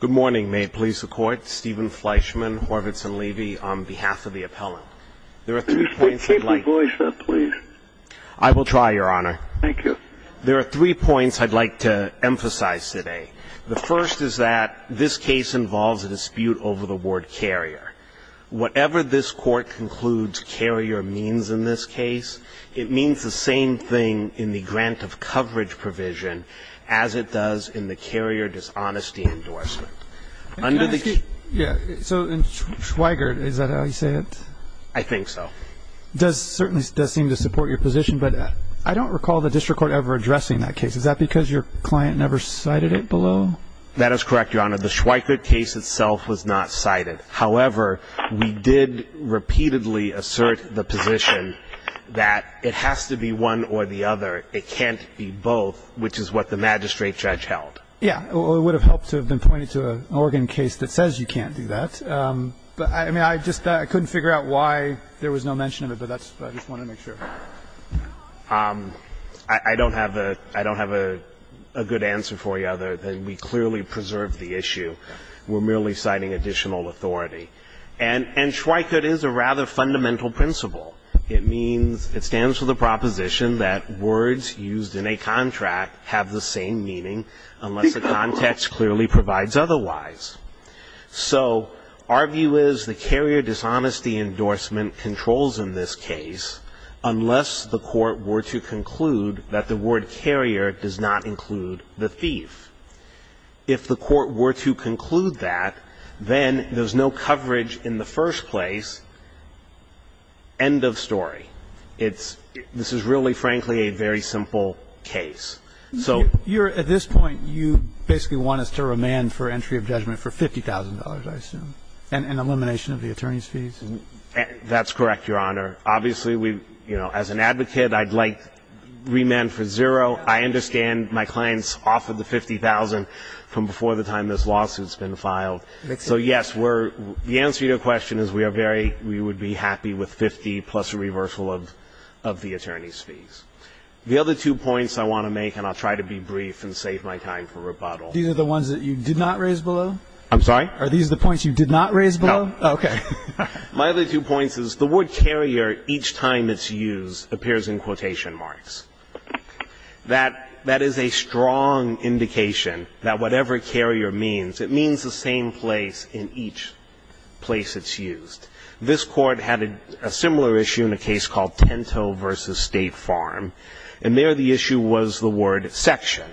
Good morning. May it please the Court, Stephen Fleischman, Horvitz & Levy, on behalf of the appellant. There are three points I'd like to... Can you please keep your voice up, please? I will try, Your Honor. Thank you. There are three points I'd like to emphasize today. The first is that this case involves a dispute over the word carrier. Whatever this Court concludes carrier means in this case, it means the same thing in the grant of coverage provision as it does in the carrier dishonesty endorsement. Can I ask you... Yeah. So in Schweigert, is that how you say it? I think so. It certainly does seem to support your position, but I don't recall the district court ever addressing that case. Is that because your client never cited it below? That is correct, Your Honor. The Schweigert case itself was not cited. However, we did repeatedly assert the position that it has to be one or the other. It can't be both, which is what the magistrate judge held. Yeah. Well, it would have helped to have been pointed to an Oregon case that says you can't do that. But, I mean, I just couldn't figure out why there was no mention of it, but I just wanted to make sure. I don't have a good answer for you other than we clearly preserved the issue. We're merely citing additional authority. And Schweigert is a rather fundamental principle. It means it stands for the proposition that words used in a contract have the same meaning unless the context clearly provides otherwise. So our view is the carrier dishonesty endorsement controls in this case unless the court were to conclude that the word carrier does not include the thief. If the court were to conclude that, then there's no coverage in the first place. End of story. It's – this is really, frankly, a very simple case. So – You're – at this point, you basically want us to remand for entry of judgment for $50,000, I assume, and elimination of the attorney's fees? That's correct, Your Honor. Obviously, we – you know, as an advocate, I'd like remand for zero. I understand my clients offered the $50,000 from before the time this lawsuit's been filed. So, yes, we're – the answer to your question is we are very – we would be happy with 50 plus a reversal of the attorney's fees. The other two points I want to make, and I'll try to be brief and save my time for rebuttal. These are the ones that you did not raise below? I'm sorry? Are these the points you did not raise below? No. Okay. My other two points is the word carrier, each time it's used, appears in quotation marks. That – that is a strong indication that whatever carrier means, it means the same place in each place it's used. This Court had a similar issue in a case called Tinto v. State Farm. And there the issue was the word section.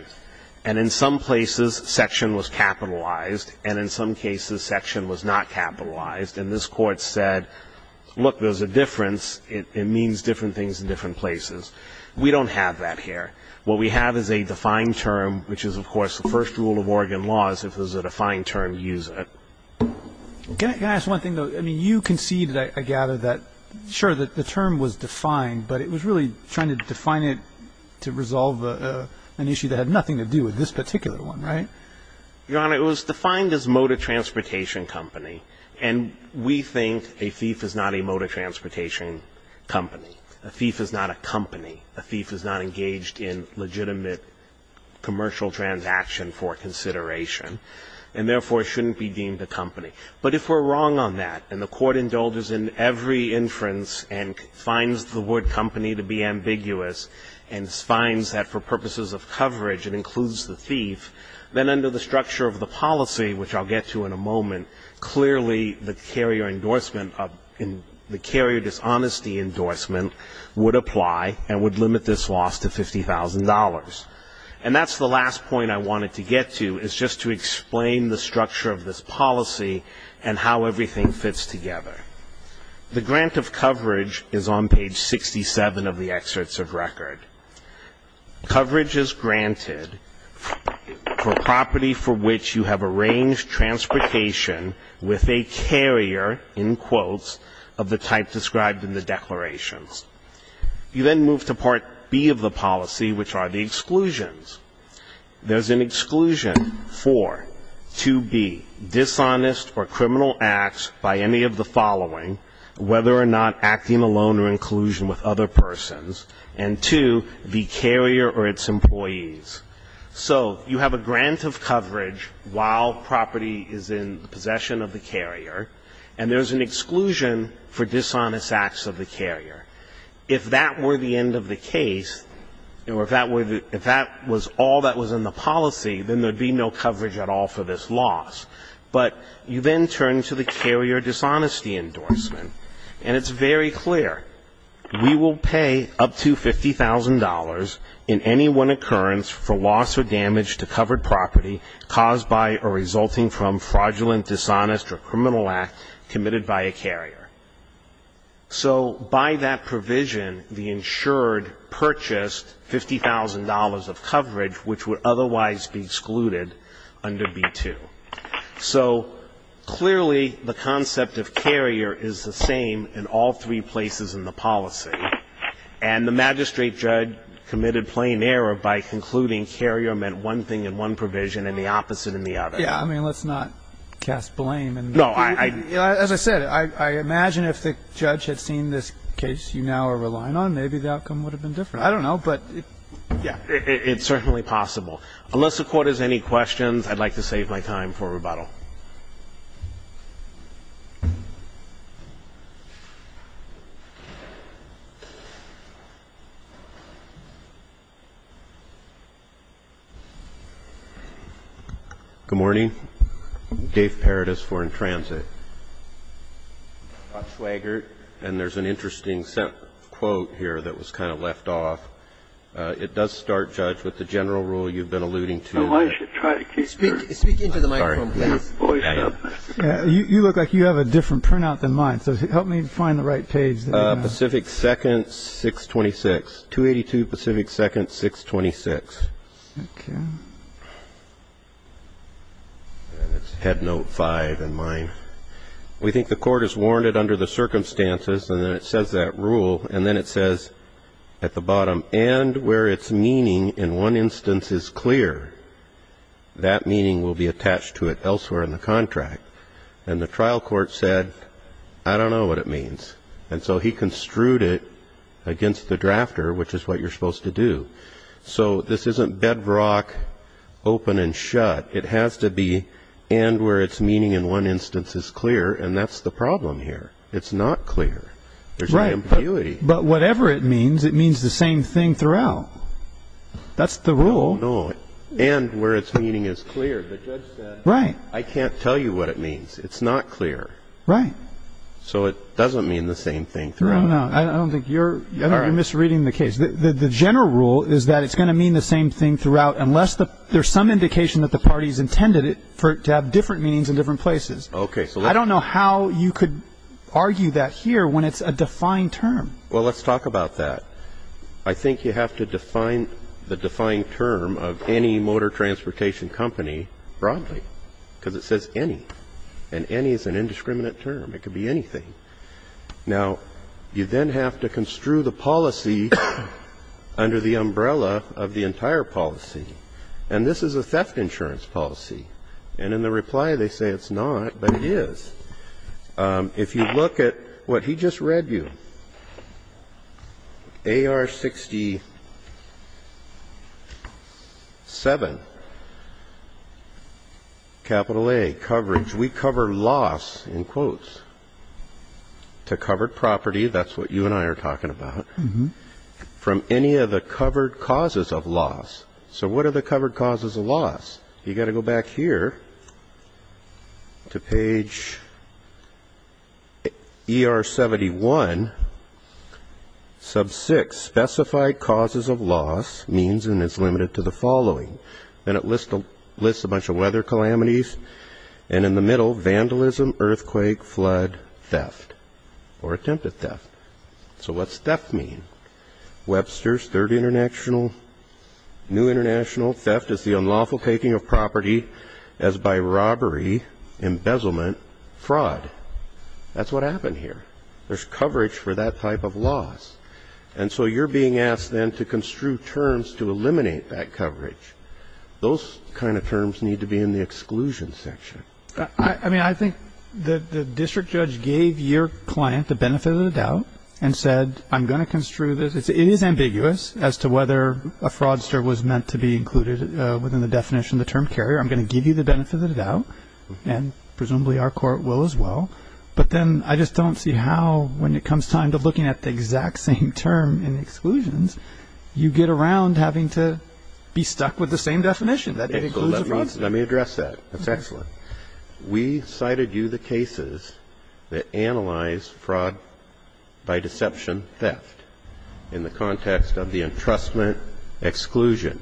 And in some places, section was capitalized, and in some cases, section was not capitalized. And this Court said, look, there's a difference. It means different things in different places. We don't have that here. What we have is a defined term, which is, of course, the first rule of Oregon law is if there's a defined term, use it. Can I ask one thing, though? I mean, you conceded, I gather, that – sure, the term was defined, but it was really trying to define it to resolve an issue that had nothing to do with this particular one, right? Your Honor, it was defined as motor transportation company. And we think a thief is not a motor transportation company. A thief is not a company. A thief is not engaged in legitimate commercial transaction for consideration, and therefore shouldn't be deemed a company. But if we're wrong on that, and the Court indulges in every inference and finds the word company to be ambiguous and finds that for purposes of coverage it includes the thief, then under the structure of the policy, which I'll get to in a moment, clearly the carrier endorsement of – the carrier dishonesty endorsement would apply and would limit this loss to $50,000. And that's the last point I wanted to get to is just to explain the structure of this policy and how everything fits together. The grant of coverage is on page 67 of the excerpts of record. Coverage is granted for property for which you have arranged transportation with a carrier, in quotes, of the type described in the declarations. You then move to Part B of the policy, which are the exclusions. There's an exclusion for, to be dishonest or criminal acts by any of the following, whether or not acting alone or in collusion with other persons, and two, the carrier or its employees. So you have a grant of coverage while property is in possession of the carrier, and there's an exclusion for dishonest acts of the carrier. If that were the end of the case, or if that was all that was in the policy, then there would be no coverage at all for this loss. But you then turn to the carrier dishonesty endorsement, and it's very clear. We will pay up to $50,000 in any one occurrence for loss or damage to covered property caused by or resulting from fraudulent, dishonest, or criminal act committed by a carrier. So by that provision, the insured purchased $50,000 of coverage, which would otherwise be excluded under B-2. So clearly, the concept of carrier is the same in all three places in the policy, and the magistrate judge committed plain error by concluding carrier meant one thing in one provision and the opposite in the other. Yeah. I mean, let's not cast blame. No. As I said, I imagine if the judge had seen this case you now are relying on, maybe the outcome would have been different. I don't know. Yeah. It's certainly possible. Unless the Court has any questions, I'd like to save my time for rebuttal. Good morning. Dave Paradis, Foreign Transit. Scott Swaggart. And there's an interesting quote here that was kind of left off. It does start, Judge, with the general rule you've been alluding to. Oh, I should try to keep your voice up. Speak into the microphone, please. You look like you have a different printout than mine. So help me find the right page. Pacific 2nd, 626. 282 Pacific 2nd, 626. Okay. And it's head note 5 in mine. We think the Court has warned it under the circumstances, and then it says that rule, and then it says at the bottom, and where its meaning in one instance is clear, that meaning will be attached to it elsewhere in the contract. And the trial court said, I don't know what it means. And so he construed it against the drafter, which is what you're supposed to do. So this isn't bedrock, open and shut. It has to be and where its meaning in one instance is clear, and that's the problem here. It's not clear. There's an ambiguity. Right. But whatever it means, it means the same thing throughout. That's the rule. No, no. And where its meaning is clear. The judge said, I can't tell you what it means. It's not clear. Right. So it doesn't mean the same thing throughout. No, no, no. I don't think you're misreading the case. The general rule is that it's going to mean the same thing throughout, unless there's some indication that the parties intended it to have different meanings in different places. Okay. I don't know how you could argue that here when it's a defined term. Well, let's talk about that. I think you have to define the defined term of any motor transportation company broadly because it says any. And any is an indiscriminate term. It could be anything. Now, you then have to construe the policy under the umbrella of the entire policy. And this is a theft insurance policy. And in the reply, they say it's not. But it is. If you look at what he just read you, AR-67, capital A, coverage, we cover loss, in quotes, to covered property. That's what you and I are talking about. From any of the covered causes of loss. So what are the covered causes of loss? You've got to go back here to page ER-71. Sub 6, specified causes of loss, means and is limited to the following. And it lists a bunch of weather calamities. And in the middle, vandalism, earthquake, flood, theft, or attempted theft. So what's theft mean? Webster's, third international, new international, theft is the unlawful taking of property as by robbery, embezzlement, fraud. That's what happened here. There's coverage for that type of loss. And so you're being asked then to construe terms to eliminate that coverage. Those kind of terms need to be in the exclusion section. I mean, I think the district judge gave your client the benefit of the doubt and said, I'm going to construe this. It is ambiguous as to whether a fraudster was meant to be included within the definition of the term carrier. I'm going to give you the benefit of the doubt. And presumably our court will as well. But then I just don't see how, when it comes time to looking at the exact same term in exclusions, you get around having to be stuck with the same definition. Let me address that. That's excellent. We cited you the cases that analyze fraud by deception theft in the context of the entrustment exclusion.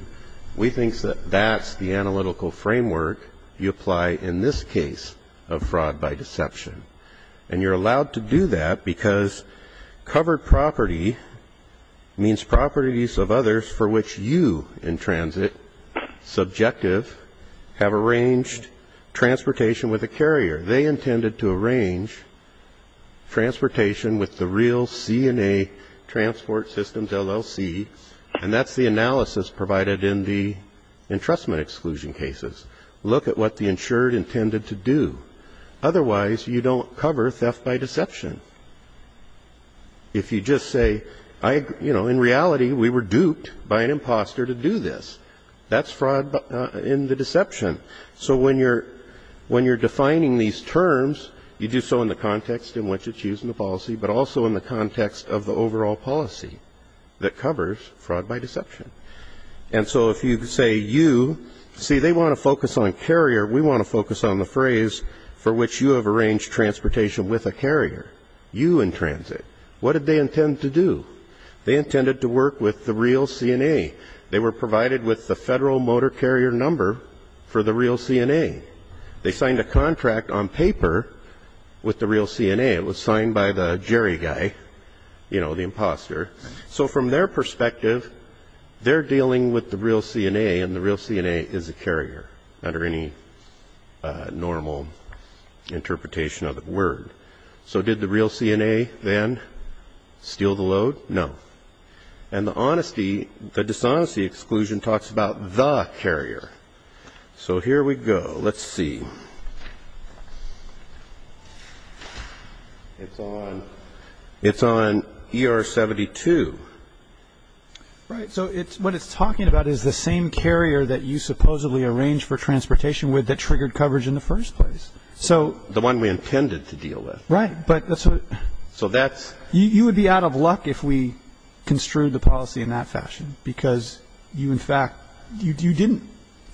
We think that that's the analytical framework you apply in this case of fraud by deception. And you're allowed to do that because covered property means properties of others for which you, in transit, subjective, have arranged transportation with a carrier. They intended to arrange transportation with the real C&A Transport Systems, LLC, and that's the analysis provided in the entrustment exclusion cases. Look at what the insured intended to do. Otherwise, you don't cover theft by deception. If you just say, you know, in reality, we were duped by an imposter to do this, that's fraud in the deception. So when you're defining these terms, you do so in the context in which it's used in the policy, but also in the context of the overall policy that covers fraud by deception. And so if you say you, see, they want to focus on carrier. We want to focus on the phrase for which you have arranged transportation with a carrier. You, in transit, what did they intend to do? They intended to work with the real C&A. They were provided with the federal motor carrier number for the real C&A. They signed a contract on paper with the real C&A. It was signed by the Jerry guy, you know, the imposter. So from their perspective, they're dealing with the real C&A, and the real C&A is a carrier under any normal interpretation of the word. So did the real C&A then steal the load? No. And the honesty, the dishonesty exclusion talks about the carrier. So here we go. Let's see. It's on ER-72. Right, so what it's talking about is the same carrier that you supposedly arranged for transportation with that triggered coverage in the first place. The one we intended to deal with. Right. You would be out of luck if we construed the policy in that fashion, because you, in fact, you didn't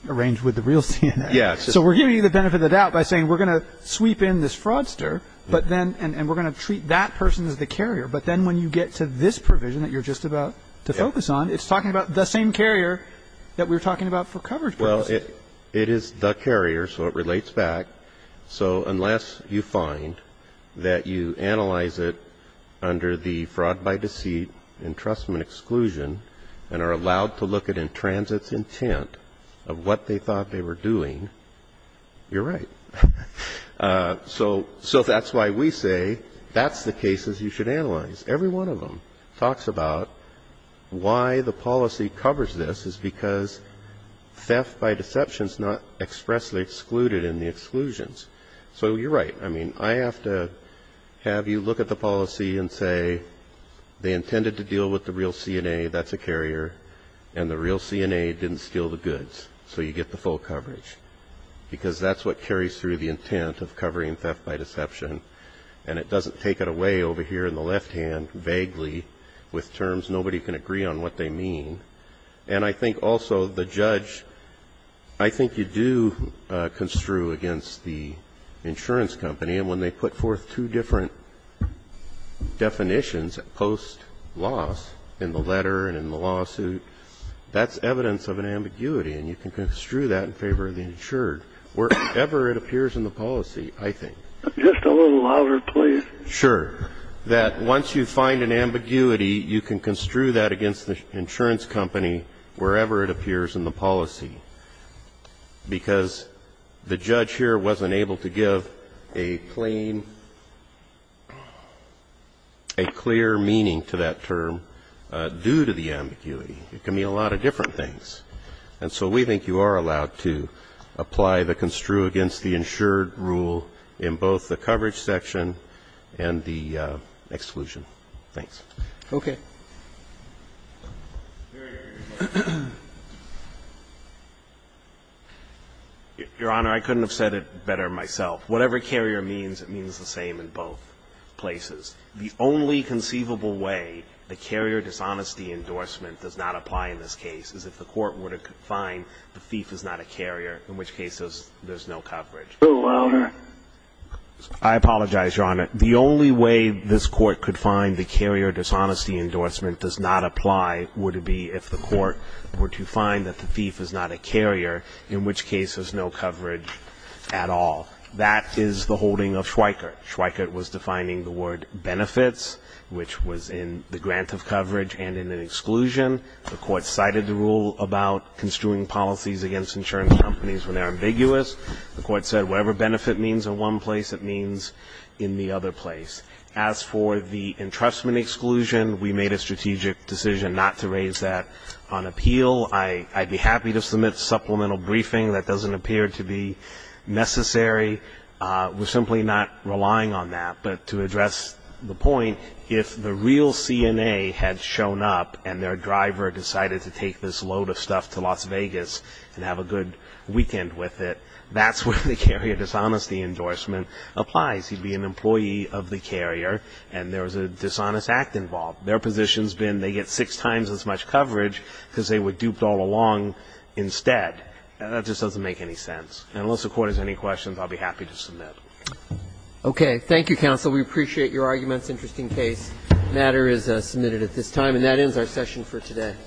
arrange with the real C&A. So we're giving you the benefit of the doubt by saying we're going to sweep in this fraudster, and we're going to treat that person as the carrier, but then when you get to this provision that you're just about to focus on, it's talking about the same carrier that we were talking about for coverage purposes. It is the carrier, so it relates back. So unless you find that you analyze it under the fraud by deceit entrustment exclusion and are allowed to look at it in transit's intent of what they thought they were doing, you're right. So that's why we say that's the cases you should analyze. Every one of them talks about why the policy covers this is because theft by deception is not expressly excluded in the exclusions. So you're right. I mean, I have to have you look at the policy and say they intended to deal with the real C&A, that's a carrier, and the real C&A didn't steal the goods, so you get the full coverage, because that's what carries through the intent of covering theft by deception, and it doesn't take it away over here in the left hand vaguely with terms nobody can agree on what they mean. And I think also the judge, I think you do construe against the insurance company, and when they put forth two different definitions post loss in the letter and in the lawsuit, that's evidence of an ambiguity, and you can construe that in favor of the insured, wherever it appears in the policy, I think. Just a little louder, please. Sure. That once you find an ambiguity, you can construe that against the insurance company wherever it appears in the policy, because the judge here wasn't able to give a plain, a clear meaning to that term due to the ambiguity. It can mean a lot of different things. And so we think you are allowed to apply the construe against the insured rule in both the coverage section and the exclusion. Thanks. Okay. Your Honor, I couldn't have said it better myself. Whatever carrier means, it means the same in both places. The only conceivable way the carrier dishonesty endorsement does not apply in this case is if the court were to find the thief is not a carrier, in which case there's no coverage. A little louder. I apologize, Your Honor. The only way this court could find the carrier dishonesty endorsement does not apply would it be if the court were to find that the thief is not a carrier, in which case there's no coverage at all. That is the holding of Schweikert. Schweikert was defining the word benefits, which was in the grant of coverage and in the exclusion. The court cited the rule about construing policies against insurance companies when they're ambiguous. The court said whatever benefit means in one place, it means in the other place. As for the entrustment exclusion, we made a strategic decision not to raise that on appeal. I'd be happy to submit a supplemental briefing. That doesn't appear to be necessary. We're simply not relying on that. But to address the point, if the real CNA had shown up and their driver decided to take this load of stuff to Las Vegas and have a good weekend with it, that's where the carrier dishonesty endorsement applies. He'd be an employee of the carrier, and there was a dishonest act involved. Their position's been they get six times as much coverage because they were duped all along instead. That just doesn't make any sense. And unless the Court has any questions, I'll be happy to submit. Okay. Thank you, counsel. We appreciate your arguments. Interesting case. The matter is submitted at this time. And that ends our session for today.